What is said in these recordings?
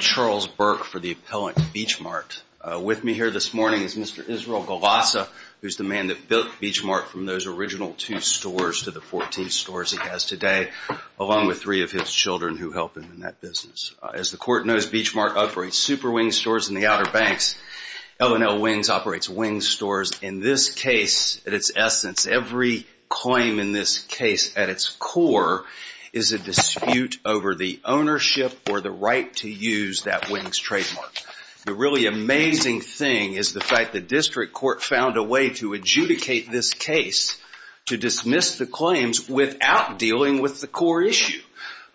Charles Burke for the appellant Beachmart. With me here this morning is Mr. Israel Golassa, who is the man that built Beachmart from those children who help him in that business. As the Court knows, Beachmart operates Super Wings stores in the Outer Banks, L&L Wings operates Wings stores. In this case, at its essence, every claim in this case at its core is a dispute over the ownership or the right to use that Wings trademark. The really amazing thing is the fact that district court found a way to adjudicate this case to dismiss the claims without dealing with the core issue.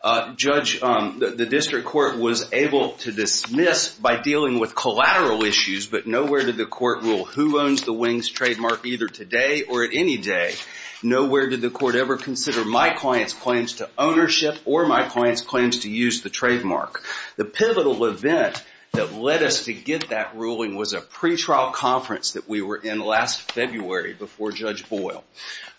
The district court was able to dismiss by dealing with collateral issues, but nowhere did the court rule who owns the Wings trademark either today or any day. Nowhere did the court ever consider my client's claims to ownership or my client's claims to use the trademark. The pivotal event that led us to get that ruling was a pretrial conference that we were in last February before Judge Boyle.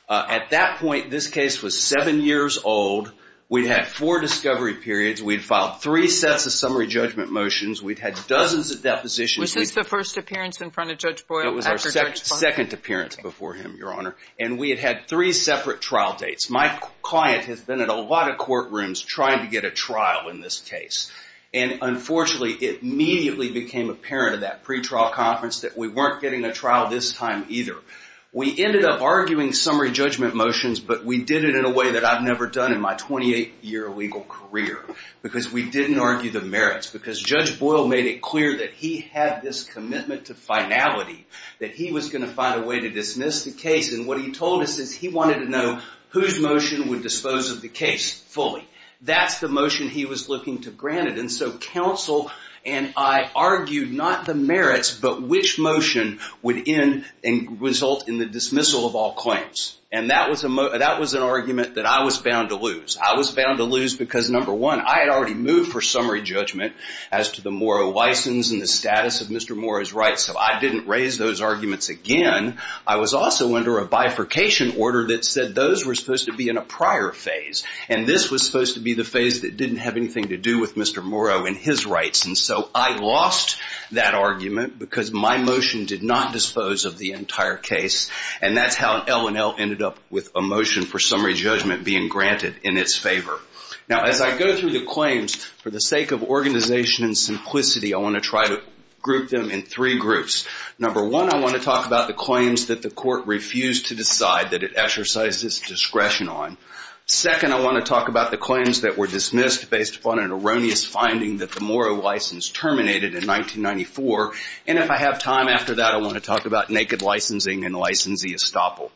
At that point, this case was seven years old, we'd had four discovery periods, we'd filed three sets of summary judgment motions, we'd had dozens of depositions. Was this the first appearance in front of Judge Boyle after Judge Boyle? It was our second appearance before him, Your Honor, and we had had three separate trial dates. My client has been at a lot of courtrooms trying to get a trial in this case, and unfortunately it immediately became apparent at that pretrial conference that we weren't getting a trial this time either. We ended up arguing summary judgment motions, but we did it in a way that I've never done in my 28-year legal career, because we didn't argue the merits. Because Judge Boyle made it clear that he had this commitment to finality, that he was going to find a way to dismiss the case, and what he told us is he wanted to know whose motion would dispose of the case fully. That's the motion he was looking to grant it, and so counsel and I argued not the merits, but which motion would end and result in the dismissal of all claims. And that was an argument that I was bound to lose. I was bound to lose because, number one, I had already moved for summary judgment as to the Morrow license and the status of Mr. Morrow's rights, so I didn't raise those arguments again. I was also under a bifurcation order that said those were supposed to be in a prior phase, and this was supposed to be the phase that didn't have anything to do with Mr. Morrow and his rights. And so I lost that argument because my motion did not dispose of the entire case, and that's how L&L ended up with a motion for summary judgment being granted in its favor. Now as I go through the claims, for the sake of organization and simplicity, I want to try to group them in three groups. Number one, I want to talk about the claims that the court refused to decide that it exercised its discretion on. Second, I want to talk about the claims that were dismissed based upon an erroneous finding that the Morrow license terminated in 1994, and if I have time after that, I want to talk about naked licensing and licensee estoppel.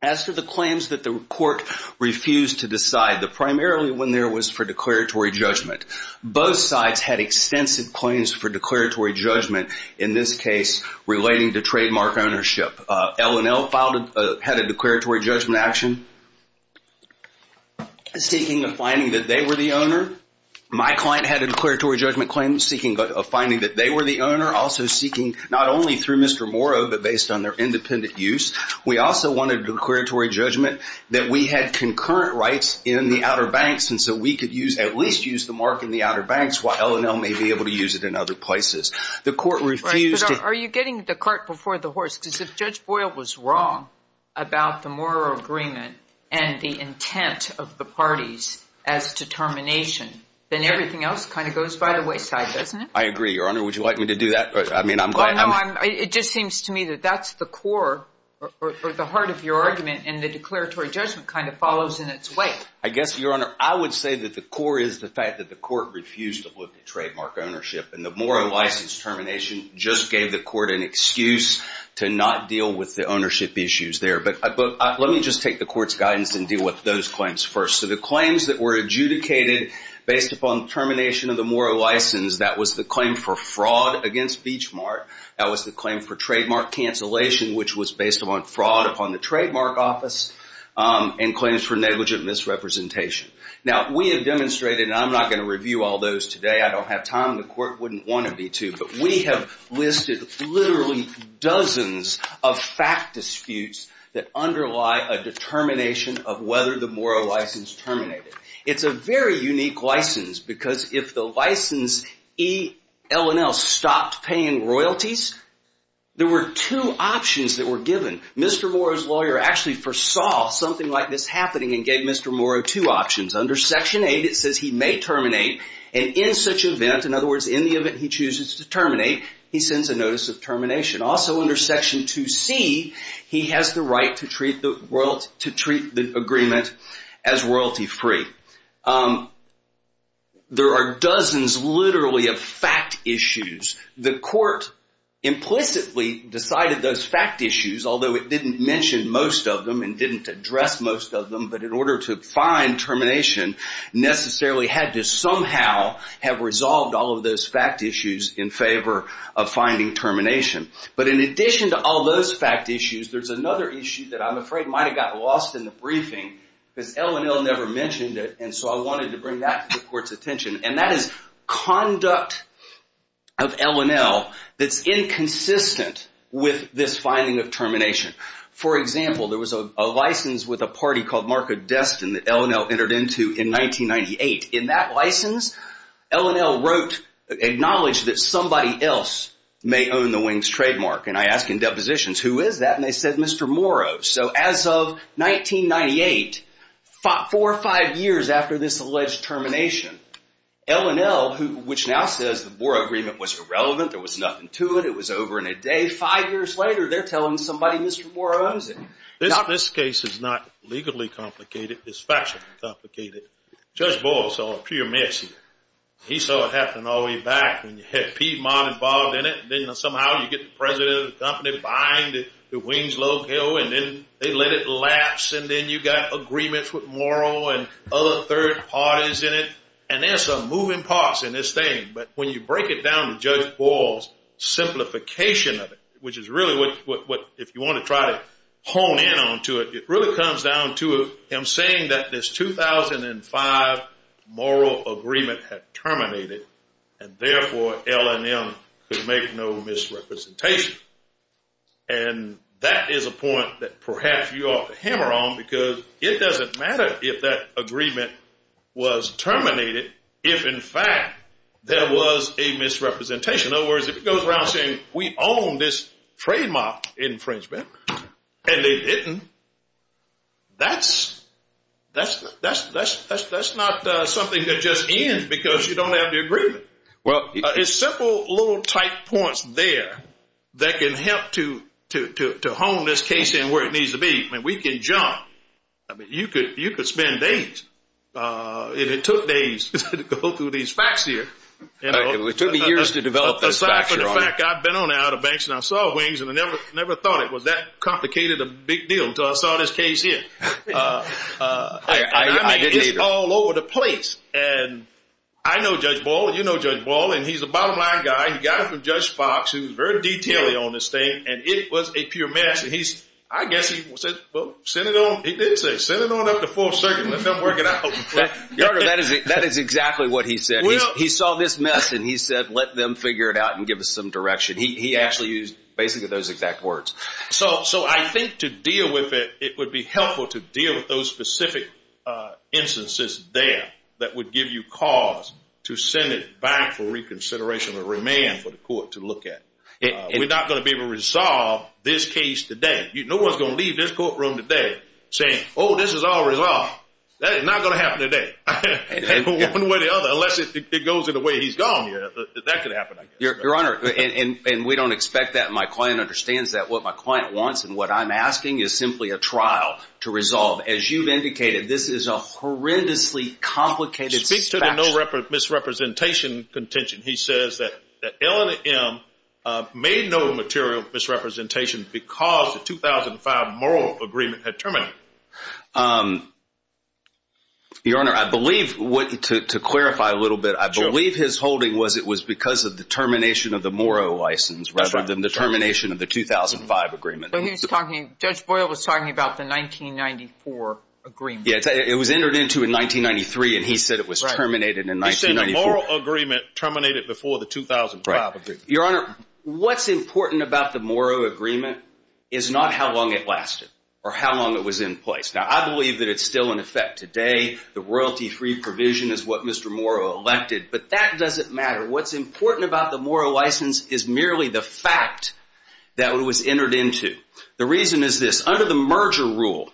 As for the claims that the court refused to decide, primarily when there was for declaratory judgment, both sides had extensive claims for declaratory judgment, in this case, relating to trademark ownership. L&L had a declaratory judgment action seeking a finding that they were the owner. My client had a declaratory judgment claim seeking a finding that they were the owner, also seeking, not only through Mr. Morrow, but based on their independent use. We also wanted a declaratory judgment that we had concurrent rights in the Outer Banks, and so we could at least use the mark in the Outer Banks while L&L may be able to use it in other places. The court refused to- Right, but are you getting the cart before the horse? Because if Judge Boyle was wrong about the Morrow agreement and the intent of the parties as to termination, then everything else kind of goes by the wayside, doesn't it? I agree, Your Honor. Would you like me to do that? I mean, I'm glad- Well, no, it just seems to me that that's the core, or the heart of your argument, and the declaratory judgment kind of follows in its wake. I guess, Your Honor, I would say that the core is the fact that the court refused to look at trademark ownership, and the Morrow license termination just gave the court an excuse to not deal with the ownership issues there, but let me just take the court's guidance and deal with those claims first. So the claims that were adjudicated based upon termination of the Morrow license, that was the claim for fraud against Beach Mart, that was the claim for trademark cancellation, which was based on fraud upon the trademark office, and claims for negligent misrepresentation. Now, we have demonstrated, and I'm not going to review all those today, I don't have time, and the court wouldn't want to be too, but we have listed literally dozens of fact disputes that underlie a determination of whether the Morrow license terminated. It's a very unique license, because if the license E.L.N.L. stopped paying royalties, there were two options that were given. Mr. Morrow's lawyer actually foresaw something like this happening, and gave Mr. Morrow two options. Under Section 8, it says he may terminate, and in such event, in other words, in the event he chooses to terminate, he sends a notice of termination. Also under Section 2C, he has the right to treat the agreement as royalty free. There are dozens, literally, of fact issues. The court implicitly decided those fact issues, although it didn't mention most of them, and didn't address most of them, but in order to find termination, necessarily had to somehow have resolved all of those fact issues in finding termination. In addition to all those fact issues, there's another issue that I'm afraid might have gotten lost in the briefing, because E.L.N.L. never mentioned it, and so I wanted to bring that to the court's attention, and that is conduct of E.L.N.L. that's inconsistent with this finding of termination. For example, there was a license with a party called Marco Destin that E.L.N.L. entered into in 1998. In that license, E.L.N.L. wrote, acknowledged that somebody else may own the Wings trademark, and I ask in depositions, who is that, and they said, Mr. Moro. So as of 1998, four or five years after this alleged termination, E.L.N.L., which now says the Moro agreement was irrelevant, there was nothing to it, it was over in a day, five years later, they're telling somebody Mr. Moro owns it. This case is not legally complicated, it's factually complicated. Judge Boyle saw a pure mix here. He saw it happen all the way back when you had Piedmont involved in it, and then somehow you get the president of the company buying the Wings logo, and then they let it lapse, and then you got agreements with Moro and other third parties in it, and there's some moving parts in this thing, but when you break it down to Judge Boyle's simplification of it, which is really what, if you want to try to hone in on to it, it really comes down to him saying that this 2005 Moro agreement had terminated, and therefore E.L.N.L. could make no misrepresentation, and that is a point that perhaps you ought to hammer on, because it doesn't matter if that agreement was terminated if, in fact, there was a misrepresentation. In other words, if it goes around saying we own this trademark infringement, and it didn't, that's not something that just ends because you don't have the agreement. It's simple little tight points there that can help to hone this case in where it needs to be. We can jump. You could spend days. It took days to go through these facts here. It took me years to develop this factor on it. Aside from the fact I've been on the outer banks, and I saw wings, and I never thought it was that complicated a big deal until I saw this case here. I didn't either. I mean, it's all over the place, and I know Judge Boyle, and you know Judge Boyle, and he's a bottom line guy. He got it from Judge Fox, who's very detailed on this thing, and it was a pure mess, and I guess he said, well, send it on. He did say, send it on up the fourth circuit and let them work it out. That is exactly what he said. He saw this mess, and he said, let them figure it out and give us some direction. He actually used basically those exact words. So I think to deal with it, it would be helpful to deal with those specific instances there that would give you cause to send it back for reconsideration or remand for the court to look at. We're not going to be able to resolve this case today. No one's going to leave this courtroom today saying, oh, this is all resolved. That is not going to happen today. One way or the other, unless it goes in the way he's gone here, that could happen, I guess. Your Honor, and we don't expect that. My client understands that. What my client wants and what I'm asking is simply a trial to resolve. As you've indicated, this is a horrendously complicated suspect. Speak to the no misrepresentation contention. He says that L&M made no material misrepresentation because the 2005 Morrow Agreement had terminated. Your Honor, I believe, to clarify a little bit, I believe his holding was it was because of the termination of the Morrow license rather than the termination of the 2005 agreement. So he was talking, Judge Boyle was talking about the 1994 agreement. It was entered into in 1993, and he said it was terminated in 1994. He said the Morrow Agreement terminated before the 2005 agreement. Your Honor, what's important about the Morrow Agreement is not how long it lasted or how long it was in place. Now, I believe that it's still in effect today. The royalty-free provision is what Mr. Morrow elected, but that doesn't matter. What's important about the Morrow license is merely the fact that it was entered into. The reason is this. Under the merger rule,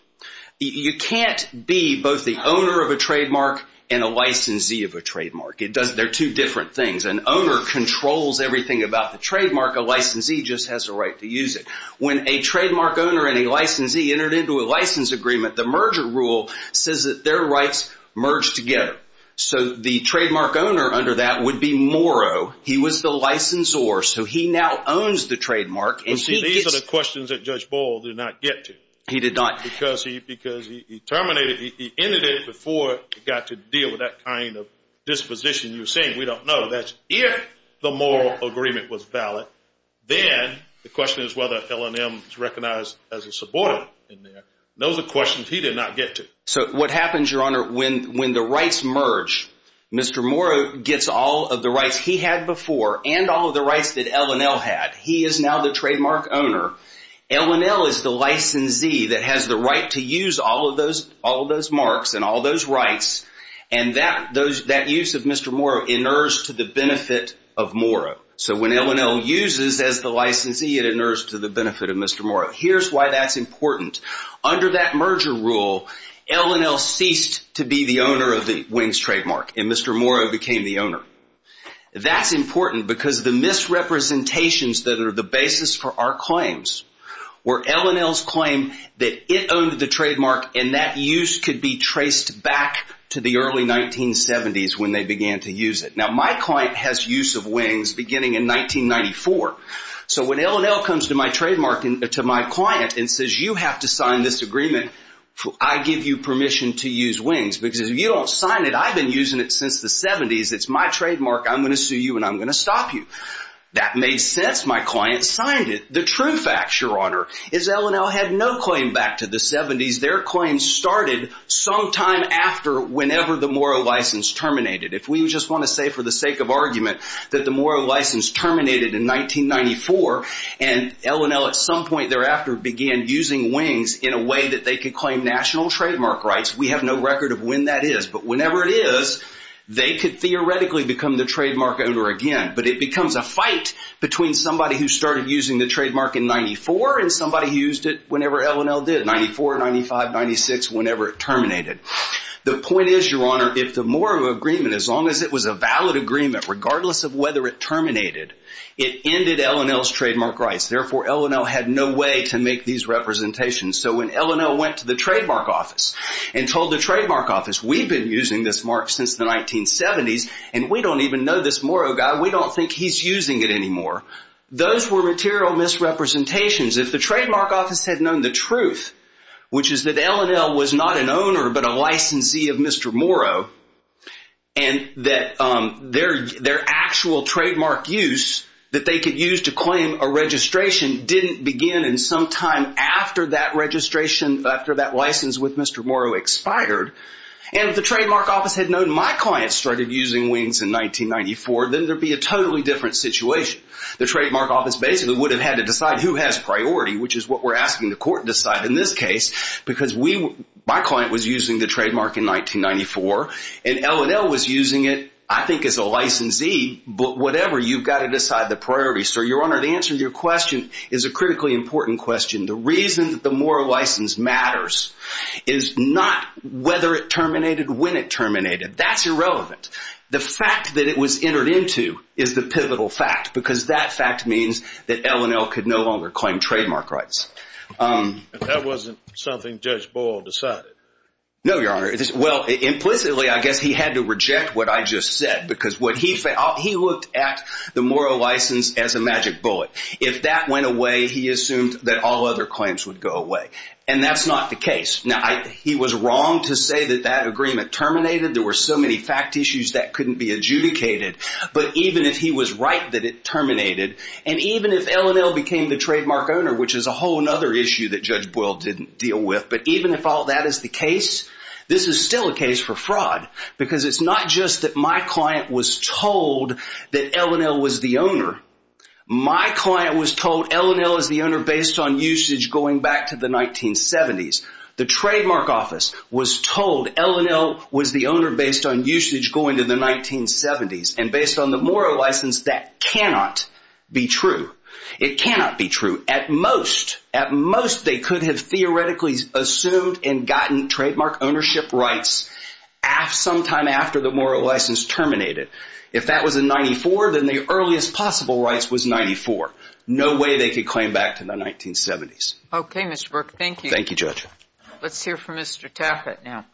you can't be both the owner of a trademark and a licensee of a trademark. They're two different things. An owner controls everything about the trademark. A licensee just has a right to use it. When a trademark owner and a licensee entered into a license agreement, the merger rule says that their rights merge together. So the trademark owner under that would be Morrow. He was the licensor. So he now owns the trademark, and he gets... But see, these are the questions that Judge Boyle did not get to. He did not... Because he terminated, he ended it before it got to deal with that kind of disposition you're saying. We don't know. That's if the Morrow agreement was valid, then the question is whether L&M is recognized as a subordinate in there. Those are questions he did not get to. So what happens, Your Honor, when the rights merge, Mr. Morrow gets all of the rights he had before and all of the rights that L&L had. He is now the trademark owner. L&L is the licensee that has the right to use all of those marks and all those rights, and that use of Mr. Morrow inerts to the benefit of Morrow. So when L&L uses as the licensee, it inerts to the benefit of Mr. Morrow. Here's why that's important. Under that merger rule, L&L ceased to be the owner of the Wings trademark, and Mr. Morrow became the owner. That's important because the misrepresentations that are the basis for our claims were L&L's claim that it owned the trademark, and that use could be traced back to the early 1970s when they began to use it. Now, my client has use of Wings beginning in 1994. So when L&L comes to my client and says, you have to sign this agreement, I give you permission to use Wings. Because if you don't sign it, I've been using it since the 70s. It's my trademark. I'm going to sue you, and I'm going to stop you. That made sense. My client signed it. The true fact, Your Honor, is L&L had no claim back to the 70s. Their claim started sometime after whenever the Morrow license terminated. If we just want to say for the sake of argument that the Morrow license terminated in 1994, and L&L at some point thereafter began using Wings in a way that they could claim national trademark rights. We have no record of when that is. But whenever it is, they could theoretically become the trademark owner again. But it becomes a fight between somebody who started using the trademark in 94 and somebody who used it whenever L&L did, 94, 95, 96, whenever it terminated. The point is, Your Honor, if the Morrow agreement, as long as it was a valid agreement, regardless of whether it terminated, it ended L&L's trademark rights. Therefore, L&L had no way to make these representations. So when L&L went to the trademark office and told the trademark office, we've been using this mark since the 1970s, and we don't even know this Morrow guy. We don't think he's using it anymore. Those were material misrepresentations. If the trademark office had known the truth, which is that L&L was not an owner but a licensee of Mr. Morrow, and that their actual trademark use that they could use to claim a registration didn't begin in some time after that registration, after that license with Mr. Morrow expired, and if the trademark office had known my client started using Wings in 1994, then there'd be a totally different situation. The trademark office basically would have had to decide who has priority, which is what we're asking the court to decide in this case, because my client was using the trademark in 1994, and L&L was using it, I think, as a licensee. But whatever, you've got to decide the priority. Your Honor, the answer to your question is a critically important question. The reason that the Morrow license matters is not whether it terminated, when it terminated. That's irrelevant. The fact that it was entered into is the pivotal fact, because that fact means that L&L could no longer claim trademark rights. That wasn't something Judge Boyle decided? No, Your Honor. Well, implicitly, I guess he had to reject what I just said, because what he found, he looked at the Morrow license as a magic bullet. If that went away, he assumed that all other claims would go away, and that's not the case. He was wrong to say that that agreement terminated. There were so many fact issues that couldn't be adjudicated, but even if he was right that it terminated, and even if L&L became the trademark owner, which is a whole other issue that Judge Boyle didn't deal with, but even if all that is the case, this is still a case for fraud, because it's not just that my client was told that L&L was the owner. My client was told L&L is the owner based on usage going back to the 1970s. The trademark office was told L&L was the owner based on usage going to the 1970s, and based on the Morrow license, that cannot be true. It cannot be true. At most, they could have theoretically assumed and gotten trademark ownership rights sometime after the Morrow license terminated. If that was in 94, then the earliest possible rights was 94. No way they could claim back to the 1970s. Okay, Mr. Burke. Thank you. Thank you, Judge. Let's hear from Mr. Taffet now.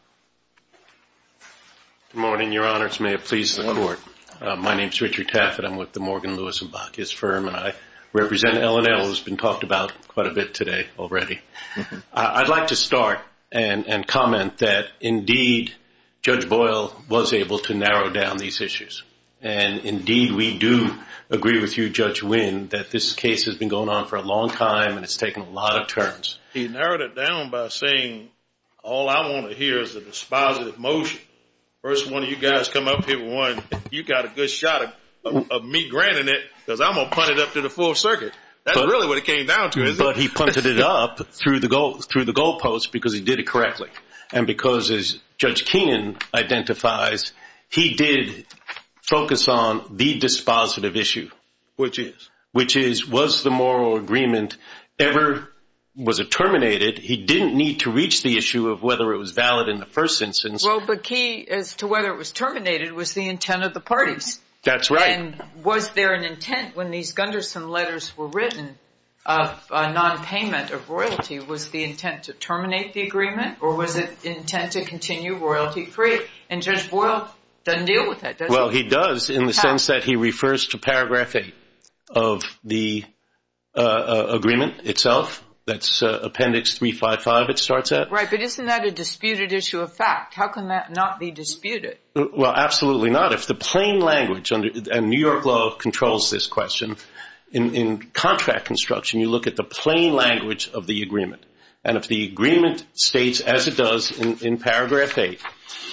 Good morning, Your Honors. May it please the Court. My name is Richard Taffet. I'm with the Morgan, Lewis & Bachius Firm, and I represent L&L, which has been talked about quite a bit today already. I'd like to start and comment that, indeed, Judge Boyle was able to narrow down these issues, and, indeed, we do agree with you, Judge Winn, that this case has been going on for a long time, and it's taken a lot of turns. He narrowed it down by saying, all I want to hear is a dispositive motion. First one of you guys come up here with one. You got a good shot of me granting it, because I'm going to punt it up to the full circuit. That's really what it came down to, isn't it? But he punted it up through the goal post, because he did it correctly, and because as Judge Keenan identifies, he did focus on the dispositive issue. Which is? Which is, was the Morrow agreement ever, was it terminated? He didn't need to reach the issue of whether it was valid in the first instance. Well, but key as to whether it was terminated was the intent of the parties. That's right. And was there an intent when these Gunderson letters were written of non-payment of royalty? Was the intent to terminate the agreement, or was it intent to continue royalty-free? And Judge Boyle doesn't deal with that, does he? Well, he does, in the sense that he refers to paragraph 8 of the agreement itself. That's appendix 355 it starts at. Right, but isn't that a disputed issue of fact? How can that not be disputed? Well, absolutely not. If the plain language, and New York law controls this question, in contract construction you look at the plain language of the agreement. And if the agreement states, as it does in paragraph 8,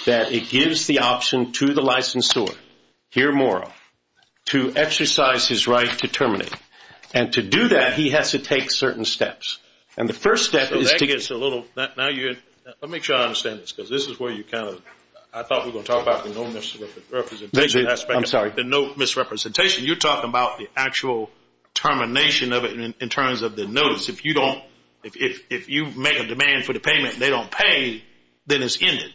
that it gives the option to the licensor, here Morrow, to exercise his right to terminate. And to do that, he has to take certain steps. And the first step is to- Now you're- Let me try to understand this, because this is where you kind of- I thought we were going to talk about the no misrepresentation aspect. I'm sorry. The no misrepresentation. You're talking about the actual termination of it in terms of the notice. If you don't- If you make a demand for the payment and they don't pay, then it's ended.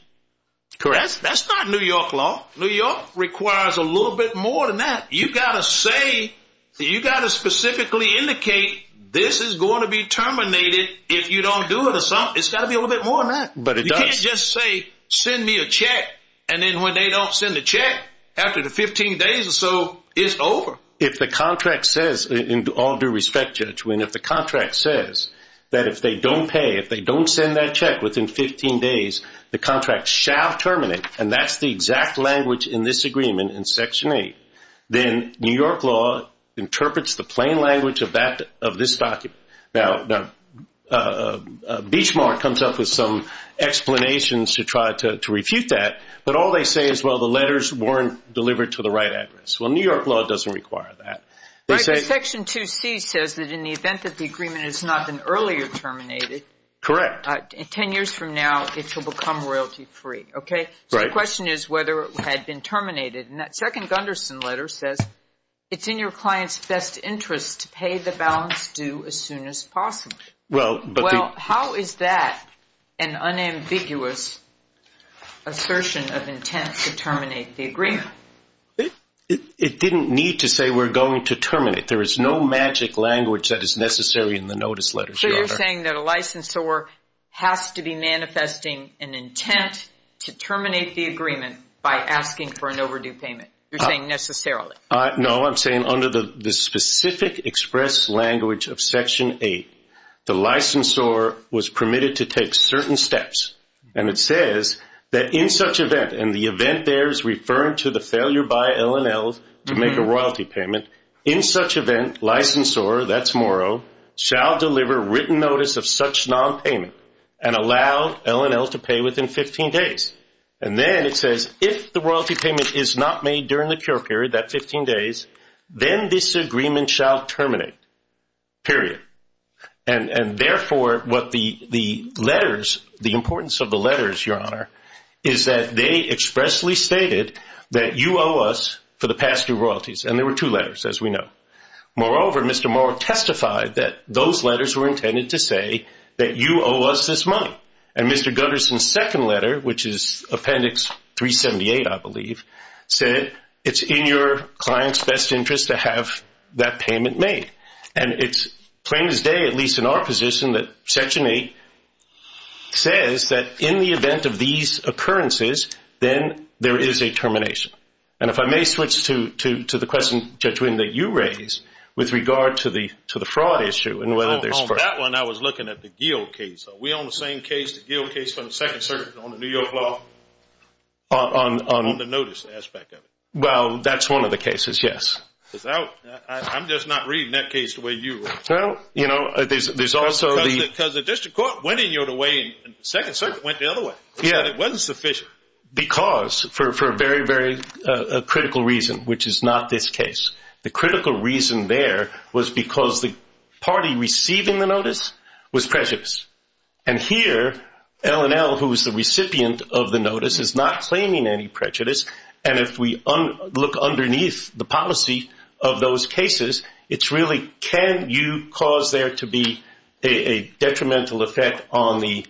Correct. That's not New York law. New York requires a little bit more than that. You've got to say, you've got to specifically indicate, this is going to be terminated if you don't do it or something. It's got to be a little bit more than that. But it does. You can't just say, send me a check. And then when they don't send the check, after the 15 days or so, it's over. If the contract says, and all due respect, Judge Winn, if the contract says that if they don't pay, if they don't send that check within 15 days, the contract shall terminate. And that's the exact language in this agreement in section 8. Then New York law interprets the plain language of this document. Now, Beachmark comes up with some explanations to try to refute that. But all they say is, well, the letters weren't delivered to the right address. Well, New York law doesn't require that. Right. Because section 2C says that in the event that the agreement has not been earlier terminated- Correct. Ten years from now, it shall become royalty free. Okay? Right. So the question is whether it had been terminated. And that second Gunderson letter says, it's in your client's best interest to pay the balance due as soon as possible. Well, but the- Well, how is that an unambiguous assertion of intent to terminate the agreement? It didn't need to say we're going to terminate. There is no magic language that is necessary in the notice letters, Your Honor. So you're saying that a licensor has to be manifesting an intent to terminate the agreement by asking for an overdue payment. You're saying necessarily. No, I'm saying under the specific express language of section 8, the licensor was permitted to take certain steps. And it says that in such event, and the event there is referring to the failure by L&L to make a royalty payment, in such event, licensor, that's Morrow, shall deliver written notice of such nonpayment and allow L&L to pay within 15 days. And then it says, if the royalty payment is not made during the cure period, that 15 days, then this agreement shall terminate, period. And therefore, what the letters, the importance of the letters, Your Honor, is that they expressly stated that you owe us for the past due royalties. And there were two letters, as we know. Moreover, Mr. Morrow testified that those letters were intended to say that you owe us this money. And Mr. Gunderson's second letter, which is appendix 378, I believe, said, it's in your client's best interest to have that payment made. And it's plain as day, at least in our position, that section 8 says that in the event of these occurrences, then there is a termination. And if I may switch to the question, Judge Wynn, that you raised with regard to the fraud issue and whether there's fraud. On that one, I was looking at the Geo case. We own the same case, the Geo case from the Second Circuit on the New York law, on the notice aspect of it. Well, that's one of the cases, yes. I'm just not reading that case the way you wrote it. Well, you know, there's also the... Because the district court went in your way and the Second Circuit went the other way. Yeah. It wasn't sufficient. Because, for a very, very critical reason, which is not this case. The critical reason there was because the party receiving the notice was prejudiced. And here, L&L, who is the recipient of the notice, is not claiming any prejudice. And if we look underneath the policy of those cases, it's really, can you cause there to be a detrimental effect on the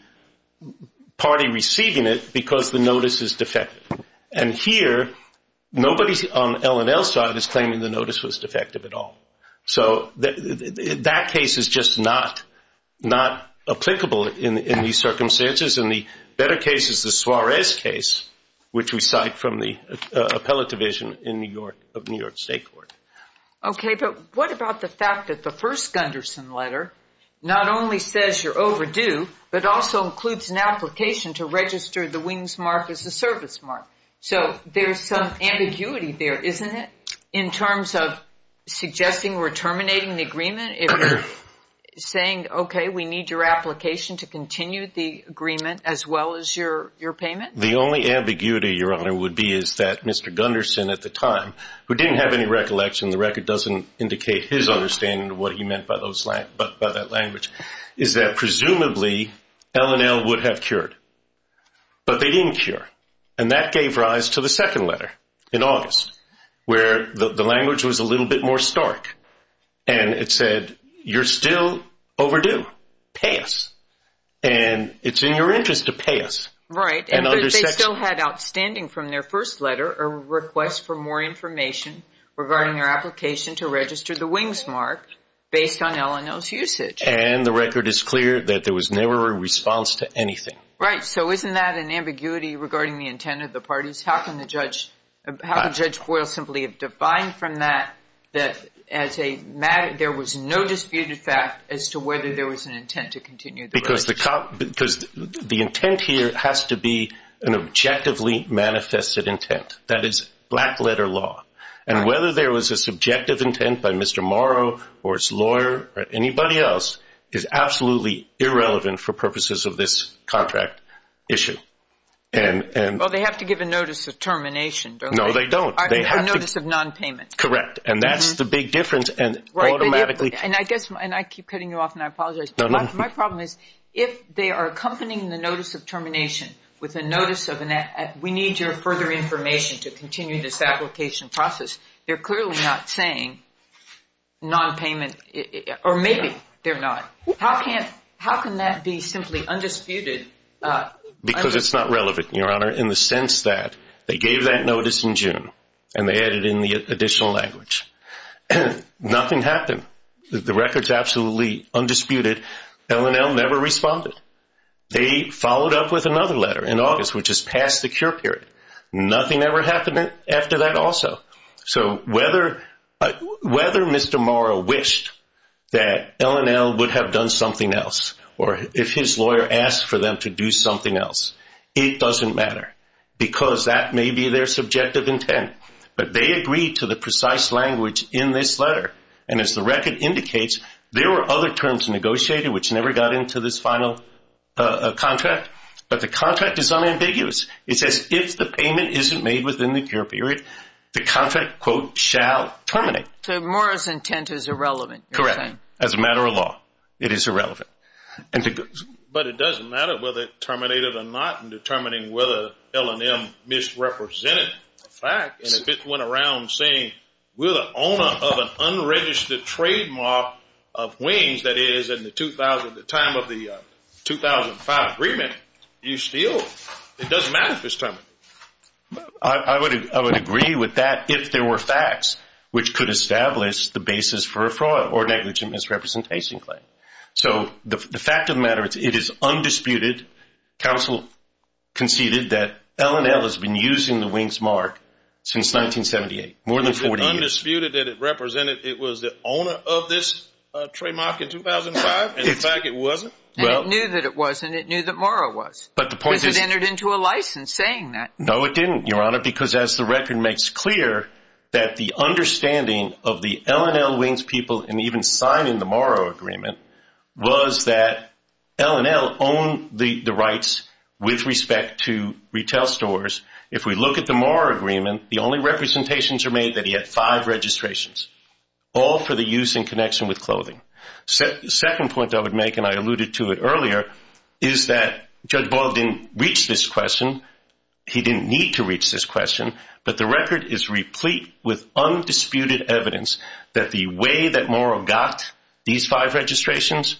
party receiving it because the notice is defective? And here, nobody on L&L's side is claiming the notice was defective at all. So that case is just not applicable in these circumstances. And the better case is the Suarez case, which we cite from the appellate division of New York State Court. Okay. But what about the fact that the first Gunderson letter not only says you're overdue, but also includes an application to register the wings mark as a service mark? So there's some ambiguity there, isn't it? In terms of suggesting we're terminating the agreement, if you're saying, okay, we need your application to continue the agreement as well as your payment? The only ambiguity, Your Honor, would be is that Mr. Gunderson, at the time, who didn't have any recollection, the record doesn't indicate his understanding of what he meant by that language, is that presumably L&L would have cured. But they didn't cure. And that gave rise to the second letter in August, where the language was a little bit more stark. And it said, you're still overdue, pay us. And it's in your interest to pay us. Right. And they still had outstanding from their first letter a request for more information regarding your application to register the wings mark based on L&L's usage. And the record is clear that there was never a response to anything. Right. So isn't that an ambiguity regarding the intent of the parties? How can Judge Boyle simply have defined from that that there was no disputed fact as to whether there was an intent to continue the relationship? Because the intent here has to be an objectively manifested intent. That is black letter law. And whether there was a subjective intent by Mr. Morrow or his lawyer or anybody else is absolutely irrelevant for purposes of this contract issue. Well, they have to give a notice of termination, don't they? No, they don't. A notice of non-payment. Correct. And that's the big difference. And automatically... Right. And I guess, and I keep cutting you off and I apologize. My problem is, if they are accompanying the notice of termination with a notice of, we need your further information to continue this application process. They're clearly not saying non-payment, or maybe they're not. How can that be simply undisputed? Because it's not relevant, Your Honor, in the sense that they gave that notice in June and they added in the additional language. Nothing happened. The record's absolutely undisputed. L&L never responded. They followed up with another letter in August, which is past the cure period. Nothing ever happened after that also. So whether Mr. Morrow wished that L&L would have done something else, or if his lawyer asked for them to do something else, it doesn't matter. Because that may be their subjective intent. But they agreed to the precise language in this letter. And as the record indicates, there were other terms negotiated, which never got into this final contract. But the contract is unambiguous. It says, if the payment isn't made within the cure period, the contract, quote, shall terminate. So Morrow's intent is irrelevant, you're saying? Correct. As a matter of law, it is irrelevant. But it doesn't matter whether it terminated or not in determining whether L&L misrepresented the fact. And if it went around saying, we're the owner of an unregistered trademark of wings, that is, at the time of the 2005 agreement, you still, it doesn't matter if it's terminated. I would agree with that if there were facts which could establish the basis for a fraud or negligent misrepresentation claim. So the fact of the matter, it is undisputed, counsel conceded, that L&L has been using the wings mark since 1978, more than 40 years. It's undisputed that it represented, it was the owner of this trademark in 2005, and in fact it wasn't? And it knew that it wasn't, it knew that Morrow was, because it entered into a license saying that. No, it didn't, Your Honor, because as the record makes clear, that the understanding of the L&L wings people, and even signing the Morrow agreement, was that L&L owned the rights with respect to retail stores. If we look at the Morrow agreement, the only representations are made that he had five registrations, all for the use in connection with clothing. Second point I would make, and I alluded to it earlier, is that Judge Boyle didn't reach this question, he didn't need to reach this question, but the record is replete with undisputed evidence that the way that Morrow got these five registrations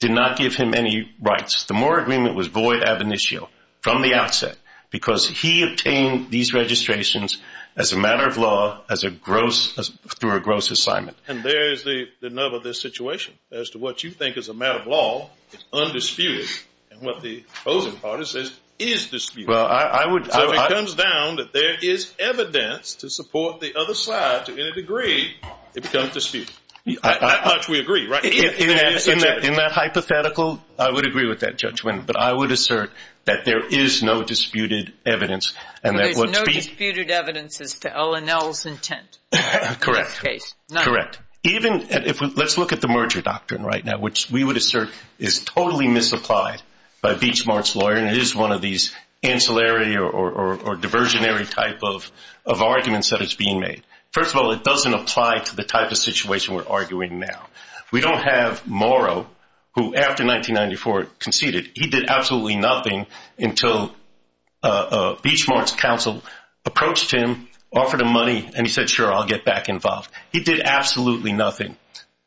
did not give him any rights. The Morrow agreement was void ab initio, from the outset, because he obtained these registrations as a matter of law, as a gross, through a gross assignment. And there is the nub of this situation, as to what you think is a matter of law, is undisputed, and what the opposing party says is disputed. Well, I would So it comes down that there is evidence to support the other side to any degree, it becomes disputed. To that much we agree, right? In that hypothetical, I would agree with that judgment, but I would assert that there is no disputed evidence, and that would be There is no disputed evidence as to LNL's intent in this case? Correct. Correct. Even if, let's look at the merger doctrine right now, which we would assert is totally misapplied by Beachmart's lawyer, and it is one of these ancillary or diversionary type of arguments that is being made. First of all, it doesn't apply to the type of situation we're arguing now. We don't have Morrow, who after 1994 conceded, he did absolutely nothing until Beachmart's counsel approached him, offered him money, and he said, sure, I'll get back involved. He did absolutely nothing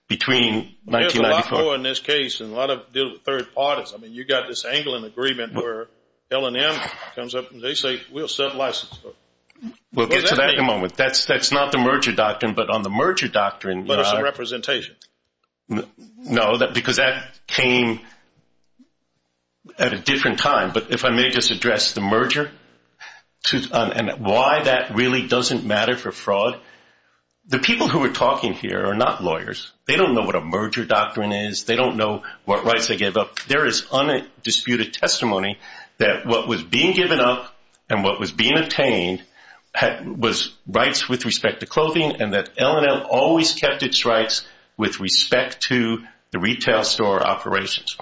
between 1994 There's a lot more in this case, and a lot of deal with third parties. I mean, you've got this angling agreement where LNM comes up and they say, we'll set licenses for We'll get to that in a moment. That's not the merger doctrine, but on the merger doctrine But there's some representation. No, because that came at a different time. But if I may just address the merger and why that really doesn't matter for fraud. The people who are talking here are not lawyers. They don't know what a merger doctrine is. They don't know what rights they gave up. There is undisputed testimony that what was being given up and what was being obtained was rights with respect to clothing and that LNL always kept its rights with respect to the retail store operations.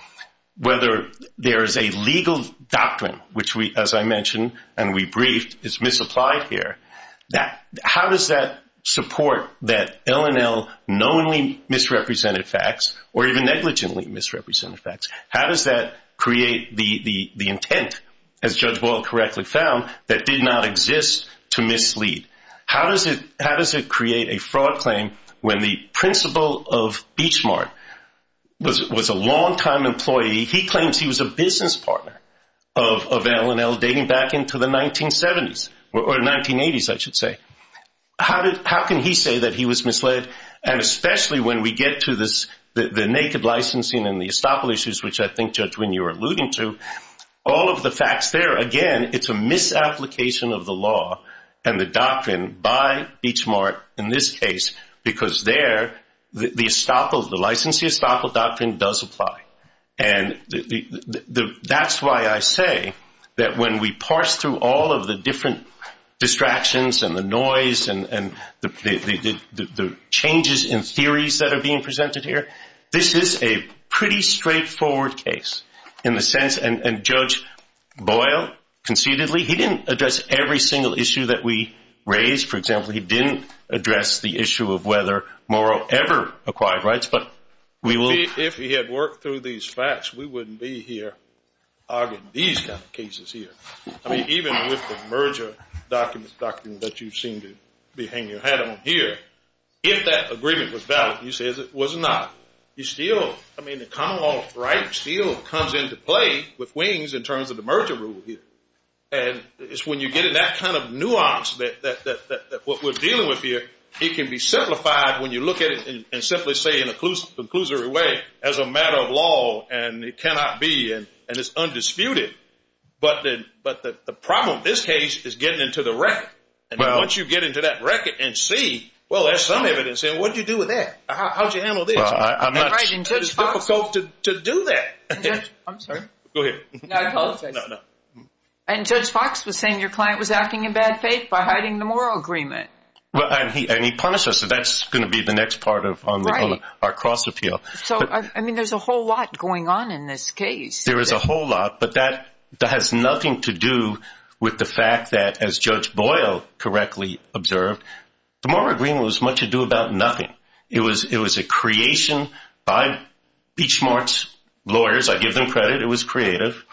Whether there is a legal doctrine, which we, as I mentioned, and we briefed, is misapplied here. How does that support that LNL knowingly misrepresented facts or even negligently misrepresented facts? How does that create the intent, as Judge Boyle correctly found, that did not exist to mislead? How does it create a fraud claim when the principal of Beachmart was a longtime employee? He claims he was a business partner of LNL dating back into the 1970s or 1980s, I should say. How can he say that he was misled? Especially when we get to the naked licensing and the estoppel issues, which I think, Judge Wynne, you were alluding to, all of the facts there, again, it's a misapplication of the law and the doctrine by Beachmart in this case because there, the licensing estoppel doctrine does apply. That's why I say that when we parse through all of the different distractions and the changes in theories that are being presented here, this is a pretty straightforward case in the sense, and Judge Boyle concededly, he didn't address every single issue that we raised. For example, he didn't address the issue of whether Morrow ever acquired rights, but we will... If he had worked through these facts, we wouldn't be here arguing these kind of cases here. I mean, even with the merger doctrine that you seem to be hanging your hat on here, if that agreement was valid, you say it was not, you still, I mean, the common law of rights still comes into play with WINGS in terms of the merger rule here. And it's when you get in that kind of nuance that what we're dealing with here, it can be simplified when you look at it and simply say in a conclusory way, as a matter of law, and it cannot be, and it's undisputed, but the problem in this case is getting into the record. And once you get into that record and see, well, there's some evidence in, what'd you do with that? How'd you handle this? I'm not... It's difficult to do that. I'm sorry. Go ahead. No, I apologize. No, no. And Judge Fox was saying your client was acting in bad faith by hiding the Morrow agreement. Well, and he punished us, so that's going to be the next part of our cross-appeal. So, I mean, there's a whole lot going on in this case. There is a whole lot, but that has nothing to do with the fact that, as Judge Boyle correctly observed, the Morrow agreement was much ado about nothing. It was a creation by Peach Mart's lawyers. I give them credit. It was creative.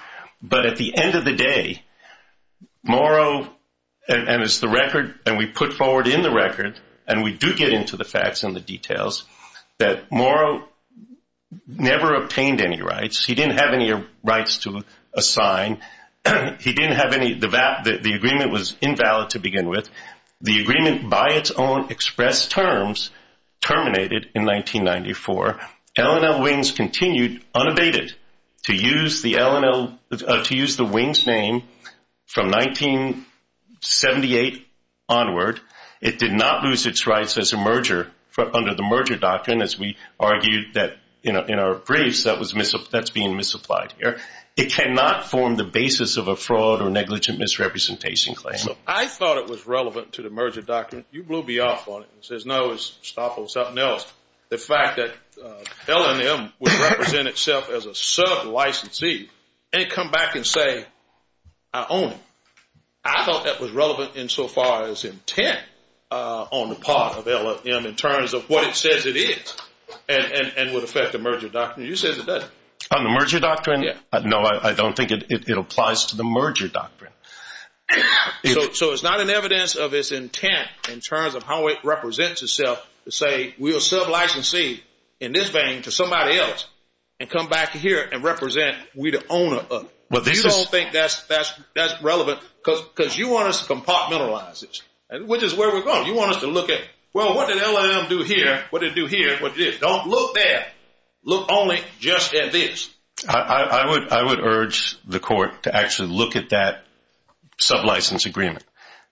But at the end of the day, Morrow, and as the record, and we put forward in the record, and we do get into the facts and the details, that Morrow never obtained any rights. He didn't have any rights to assign. He didn't have any... The agreement was invalid to begin with. The agreement, by its own expressed terms, terminated in 1994. L&L Wings continued, unabated, to use the L&L, to use the Wings name from 1978 onward. It did not lose its rights as a merger under the merger doctrine, as we argued that, in our briefs, that's being misapplied here. It cannot form the basis of a fraud or negligent misrepresentation claim. I thought it was relevant to the merger doctrine. You blew me off on it. It says, no, it's stop on something else. The fact that L&M would represent itself as a sub-licensee, and come back and say, I own it. I thought that was relevant insofar as intent on the part of L&M, in terms of what it says it is, and would affect the merger doctrine. You said it doesn't. On the merger doctrine? Yeah. No, I don't think it applies to the merger doctrine. So it's not an evidence of its intent, in terms of how it represents itself, to say, we'll sub-licensee, in this vein, to somebody else, and come back here and represent we the owner of it. You don't think that's relevant, because you want us to compartmentalize it, which is where we're going. You want us to look at, well, what did L&M do here? What did it do here? What did it do? Don't look there. Look only just at this. I would urge the court to actually look at that sub-license agreement.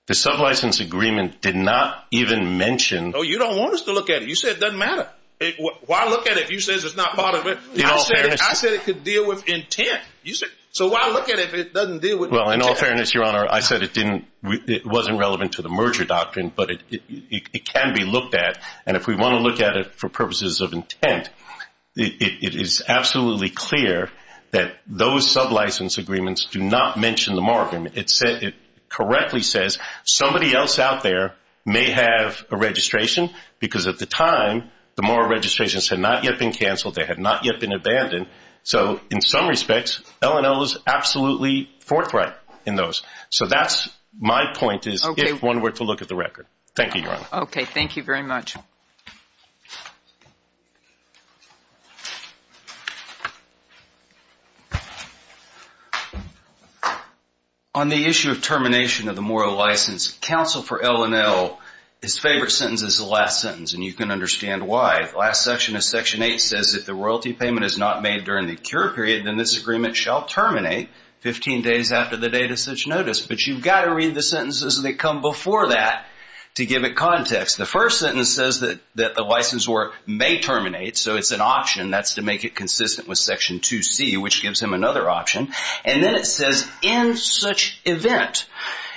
The sub-license agreement did not even mention- Oh, you don't want us to look at it. You said it doesn't matter. Why look at it if you said it's not part of it? I said it could deal with intent. So why look at it if it doesn't deal with intent? Well, in all fairness, Your Honor, I said it wasn't relevant to the merger doctrine, but it can be looked at. And if we want to look at it for purposes of intent, it is absolutely clear that those sub-license agreements do not mention the moral agreement. It correctly says somebody else out there may have a registration, because at the time, the moral registrations had not yet been canceled. They had not yet been abandoned. So in some respects, L&L is absolutely forthright in those. So that's my point, is if one were to look at the record. Thank you, Your Honor. Okay. Thank you very much. On the issue of termination of the moral license, counsel for L&L, his favorite sentence is the last sentence, and you can understand why. The last section of Section 8 says, if the royalty payment is not made during the cure period, then this agreement shall terminate 15 days after the date of such notice. But you've got to read the sentences that come before that to give it context. The first sentence says that the license work may terminate, so it's an option. That's to make it consistent with Section 2C, which gives him another option. And then it says, in such event.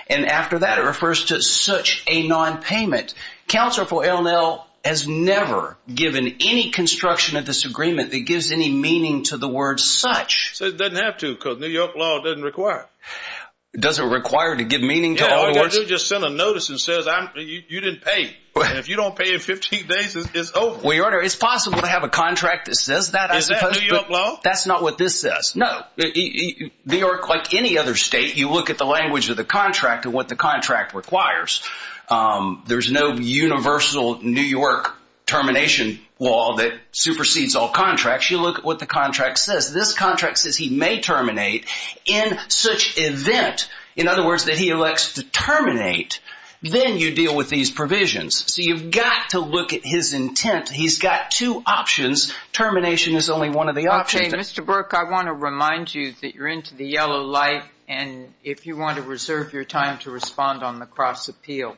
And after that, it refers to such a nonpayment. Counsel for L&L has never given any construction of this agreement that gives any meaning to the word such. So it doesn't have to, because New York law doesn't require it. Doesn't require to give meaning to all the words? Yeah, all you got to do is just send a notice that says, you didn't pay, and if you don't pay in 15 days, it's over. Well, Your Honor, it's possible to have a contract that says that, I suppose. Is that New York law? That's not what this says. No. New York, like any other state, you look at the language of the contract and what the contract requires. There's no universal New York termination law that supersedes all contracts. You look at what the contract says. This contract says he may terminate in such event. In other words, that he elects to terminate, then you deal with these provisions. So you've got to look at his intent. He's got two options. Termination is only one of the options. Okay, Mr. Burke, I want to remind you that you're into the yellow light, and if you want to reserve your time to respond on the cross-appeal,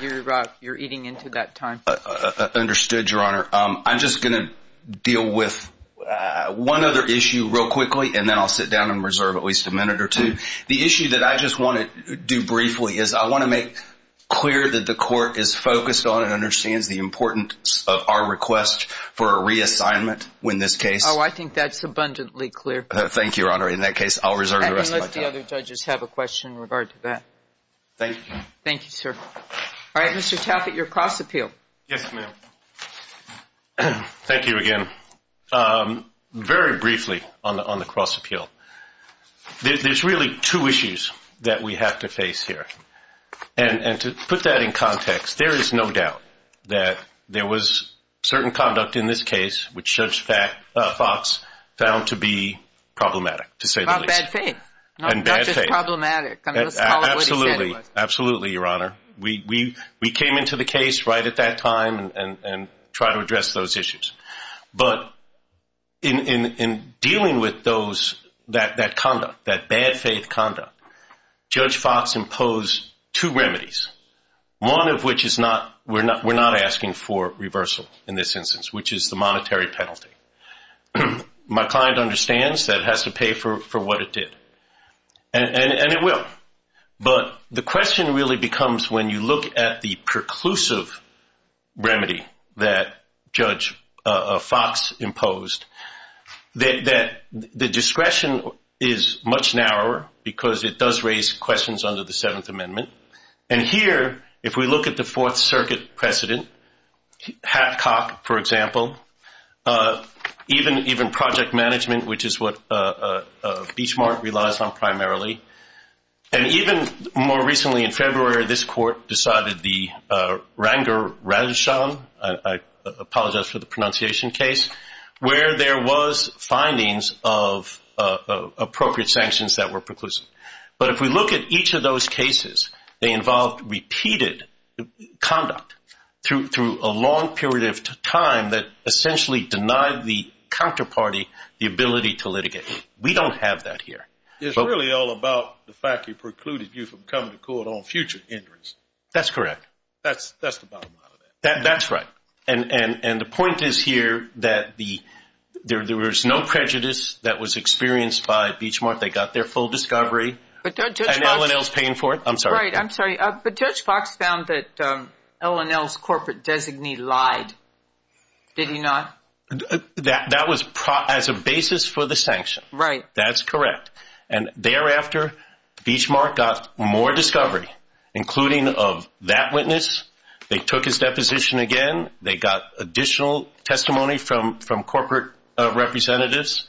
you're eating into that time. Understood, Your Honor. I'm just going to deal with one other issue real quickly, and then I'll sit down and reserve at least a minute or two. The issue that I just want to do briefly is I want to make clear that the court is focused on and understands the importance of our request for a reassignment in this case. Oh, I think that's abundantly clear. Thank you, Your Honor. In that case, I'll reserve the rest of my time. Okay. Unless the other judges have a question in regard to that. Thank you, Your Honor. Thank you, sir. All right, Mr. Taffet, your cross-appeal. Yes, ma'am. Thank you again. Very briefly on the cross-appeal. There's really two issues that we have to face here, and to put that in context, there is no doubt that there was certain conduct in this case which Judge Fox found to be problematic, to say the least. And bad faith. And bad faith. Not just problematic. Absolutely. Absolutely, Your Honor. We came into the case right at that time and tried to address those issues, but in dealing with that conduct, that bad faith conduct, Judge Fox imposed two remedies, one of which is we're not asking for reversal in this instance, which is the monetary penalty. My client understands that it has to pay for what it did, and it will, but the question really becomes when you look at the preclusive remedy that Judge Fox imposed, that the discretion is much narrower because it does raise questions under the Seventh Amendment, and here, if we look at the Fourth Circuit precedent, Hapcock, for example, even project management, which is what Beachmark relies on primarily, and even more recently in February, this court decided the Rangarajan, I apologize for the pronunciation case, where there was findings of appropriate sanctions that were preclusive. But if we look at each of those cases, they involved repeated conduct through a long period of time that essentially denied the counterparty the ability to litigate. We don't have that here. It's really all about the fact he precluded you from coming to court on future injuries. That's correct. That's the bottom line of that. That's right. And the point is here that there was no prejudice that was experienced by Beachmark. They got their full discovery, and L&L's paying for it. I'm sorry. Right. I'm sorry. But Judge Fox found that L&L's corporate designee lied, did he not? That was as a basis for the sanction. Right. That's correct. And thereafter, Beachmark got more discovery, including of that witness. They took his deposition again. They got additional testimony from corporate representatives.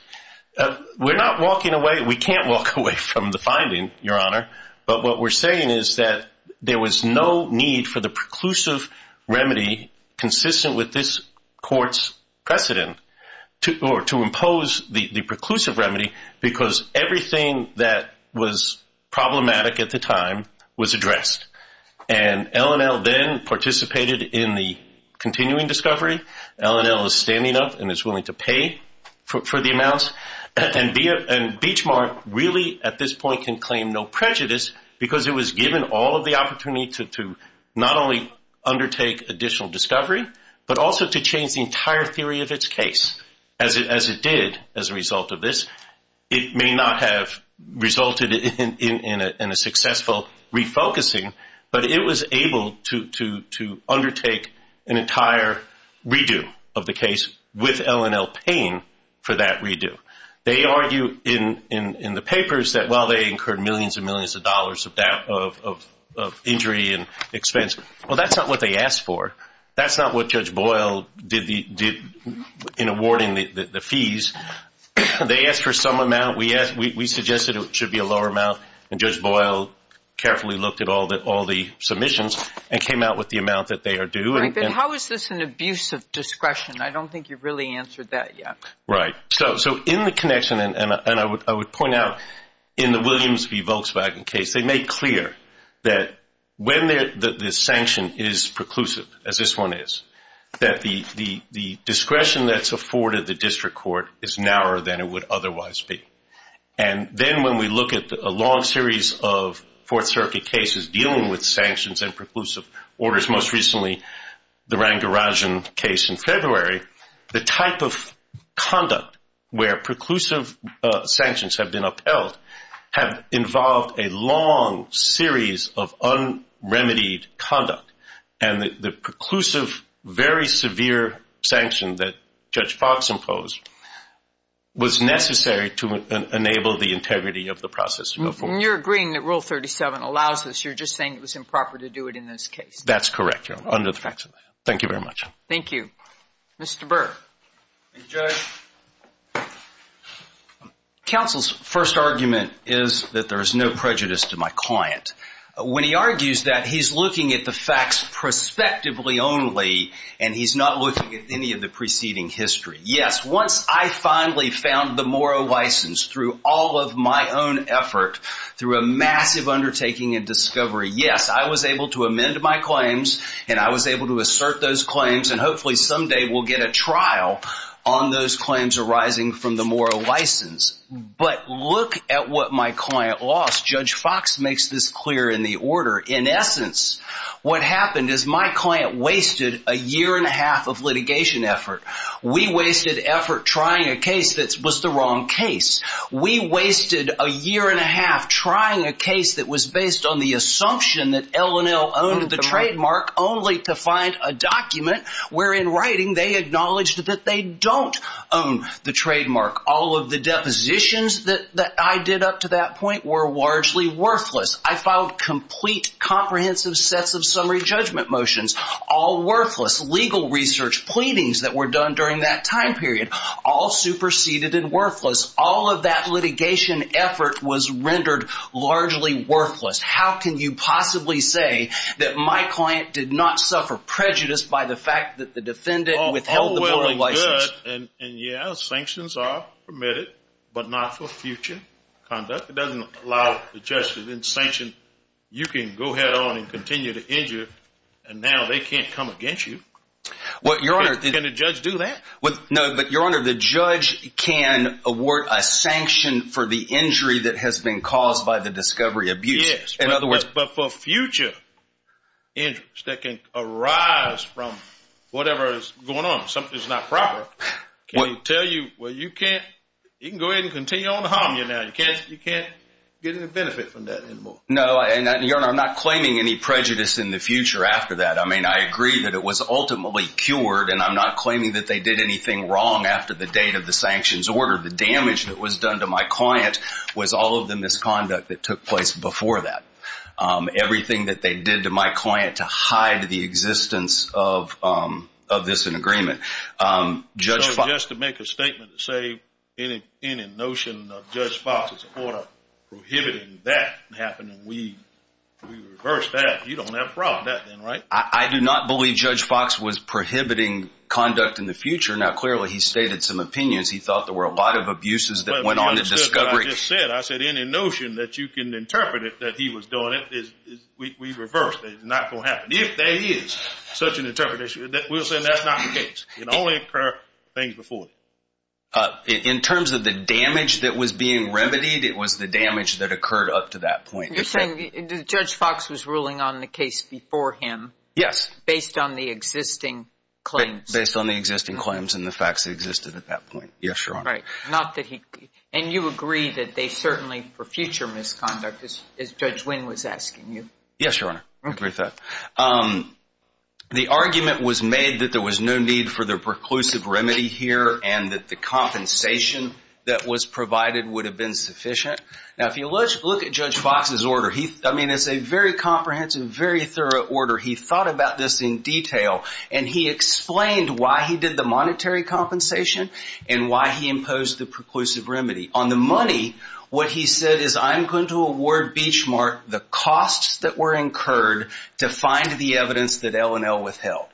We're not walking away. We can't walk away from the finding, Your Honor. But what we're saying is that there was no need for the preclusive remedy consistent with this court's precedent to impose the preclusive remedy because everything that was problematic at the time was addressed. And L&L then participated in the continuing discovery. L&L is standing up and is willing to pay for the amounts. And Beachmark really, at this point, can claim no prejudice because it was given all of the opportunity to not only undertake additional discovery, but also to change the entire theory of its case, as it did as a result of this. It may not have resulted in a successful refocusing, but it was able to undertake an entire redo of the case with L&L paying for that redo. They argue in the papers that while they incurred millions and millions of dollars of injury and expense, well, that's not what they asked for. That's not what Judge Boyle did in awarding the fees. They asked for some amount. We suggested it should be a lower amount, and Judge Boyle carefully looked at all the submissions and came out with the amount that they are due. How is this an abuse of discretion? I don't think you've really answered that yet. Right. So in the connection, and I would point out in the Williams v. Volkswagen case, they made clear that when the sanction is preclusive, as this one is, that the discretion that's afforded the district court is narrower than it would otherwise be. And then when we look at a long series of Fourth Circuit cases dealing with sanctions and preclusive orders, most recently the Rangarajan case in February, the type of conduct where preclusive sanctions have been upheld have involved a long series of unremitied conduct. And the preclusive, very severe sanction that Judge Fox imposed was necessary to enable the integrity of the process to go forward. And you're agreeing that Rule 37 allows this. You're just saying it was improper to do it in this case. That's correct, Your Honor, under the facts of that. Thank you very much. Thank you. Mr. Burr. Thank you, Judge. Counsel's first argument is that there is no prejudice to my client. When he argues that, he's looking at the facts prospectively only, and he's not looking at any of the preceding history. Yes, once I finally found the moral license through all of my own effort, through a massive undertaking and discovery, yes, I was able to amend my claims and I was able to assert those claims, and hopefully someday we'll get a trial on those claims arising from the moral license. But look at what my client lost. Judge Fox makes this clear in the order. In essence, what happened is my client wasted a year and a half of litigation effort. We wasted effort trying a case that was the wrong case. We wasted a year and a half trying a case that was based on the assumption that L&L owned the trademark only to find a document wherein writing they acknowledged that they don't own the trademark. All of the depositions that I did up to that point were largely worthless. I filed complete comprehensive sets of summary judgment motions, all worthless. Legal research, pleadings that were done during that time period, all superseded and worthless. All of that litigation effort was rendered largely worthless. How can you possibly say that my client did not suffer prejudice by the fact that the defendant withheld the moral license? And yes, sanctions are permitted, but not for future conduct. It doesn't allow the judge to then sanction. You can go ahead on and continue to injure, and now they can't come against you. Can a judge do that? No, but, Your Honor, the judge can award a sanction for the injury that has been caused by the discovery abuse. Yes, but for future injuries that can arise from whatever is going on, something that's not proper, can he tell you, well, you can go ahead and continue on to harm you now, you can't get any benefit from that anymore. No, and Your Honor, I'm not claiming any prejudice in the future after that. I mean, I agree that it was ultimately cured, and I'm not claiming that they did anything wrong after the date of the sanctions order. The damage that was done to my client was all of the misconduct that took place before that. Everything that they did to my client to hide the existence of this in agreement. Judge Fox- So just to make a statement to say any notion of Judge Fox's order prohibiting that from happening, we reverse that. You don't have a problem with that then, right? I do not believe Judge Fox was prohibiting conduct in the future. Now, clearly, he stated some opinions. He thought there were a lot of abuses that went on the discovery- I said any notion that you can interpret it that he was doing it, we reverse that. It's not going to happen. If there is such an interpretation, we'll say that's not the case. It only occurred things before. In terms of the damage that was being remedied, it was the damage that occurred up to that point. You're saying Judge Fox was ruling on the case before him- Yes. Based on the existing claims. Based on the existing claims and the facts that existed at that point. Yes, Your Honor. Right. Not that he- and you agree that they certainly for future misconduct as Judge Wynn was asking you? Yes, Your Honor. I agree with that. The argument was made that there was no need for the preclusive remedy here and that the compensation that was provided would have been sufficient. If you look at Judge Fox's order, it's a very comprehensive, very thorough order. He thought about this in detail and he explained why he did the monetary compensation and why he imposed the preclusive remedy. On the money, what he said is I'm going to award Beachmark the costs that were incurred to find the evidence that L&L withheld.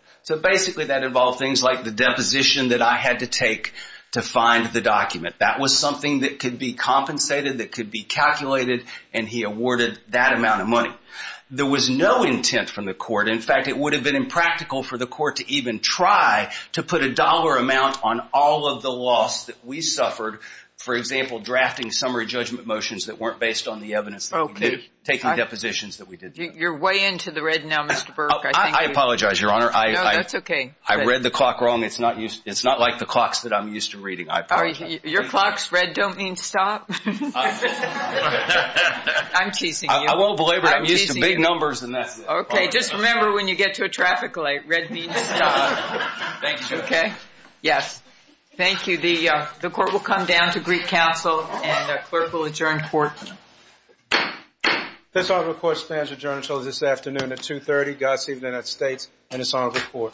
Basically, that involved things like the deposition that I had to take to find the document. That was something that could be compensated, that could be calculated, and he awarded that amount of money. There was no intent from the court. In fact, it would have been impractical for the court to even try to put a dollar amount on all of the loss that we suffered, for example, drafting summary judgment motions that weren't based on the evidence that we did, taking depositions that we did. You're way into the red now, Mr. Burke. I apologize, Your Honor. No, that's okay. I read the clock wrong. It's not like the clocks that I'm used to reading. I apologize. Your clock's red don't mean stop. I'm teasing you. I won't belabor it. I'm used to big numbers and that's it. Okay, just remember when you get to a traffic light, red means stop. Thank you, Your Honor. Yes. Thank you. The court will come down to Greek Council and the clerk will adjourn court. This honorable court stands adjourned until this afternoon at 2.30. Godspeed to the United States and this honorable court. Thank you.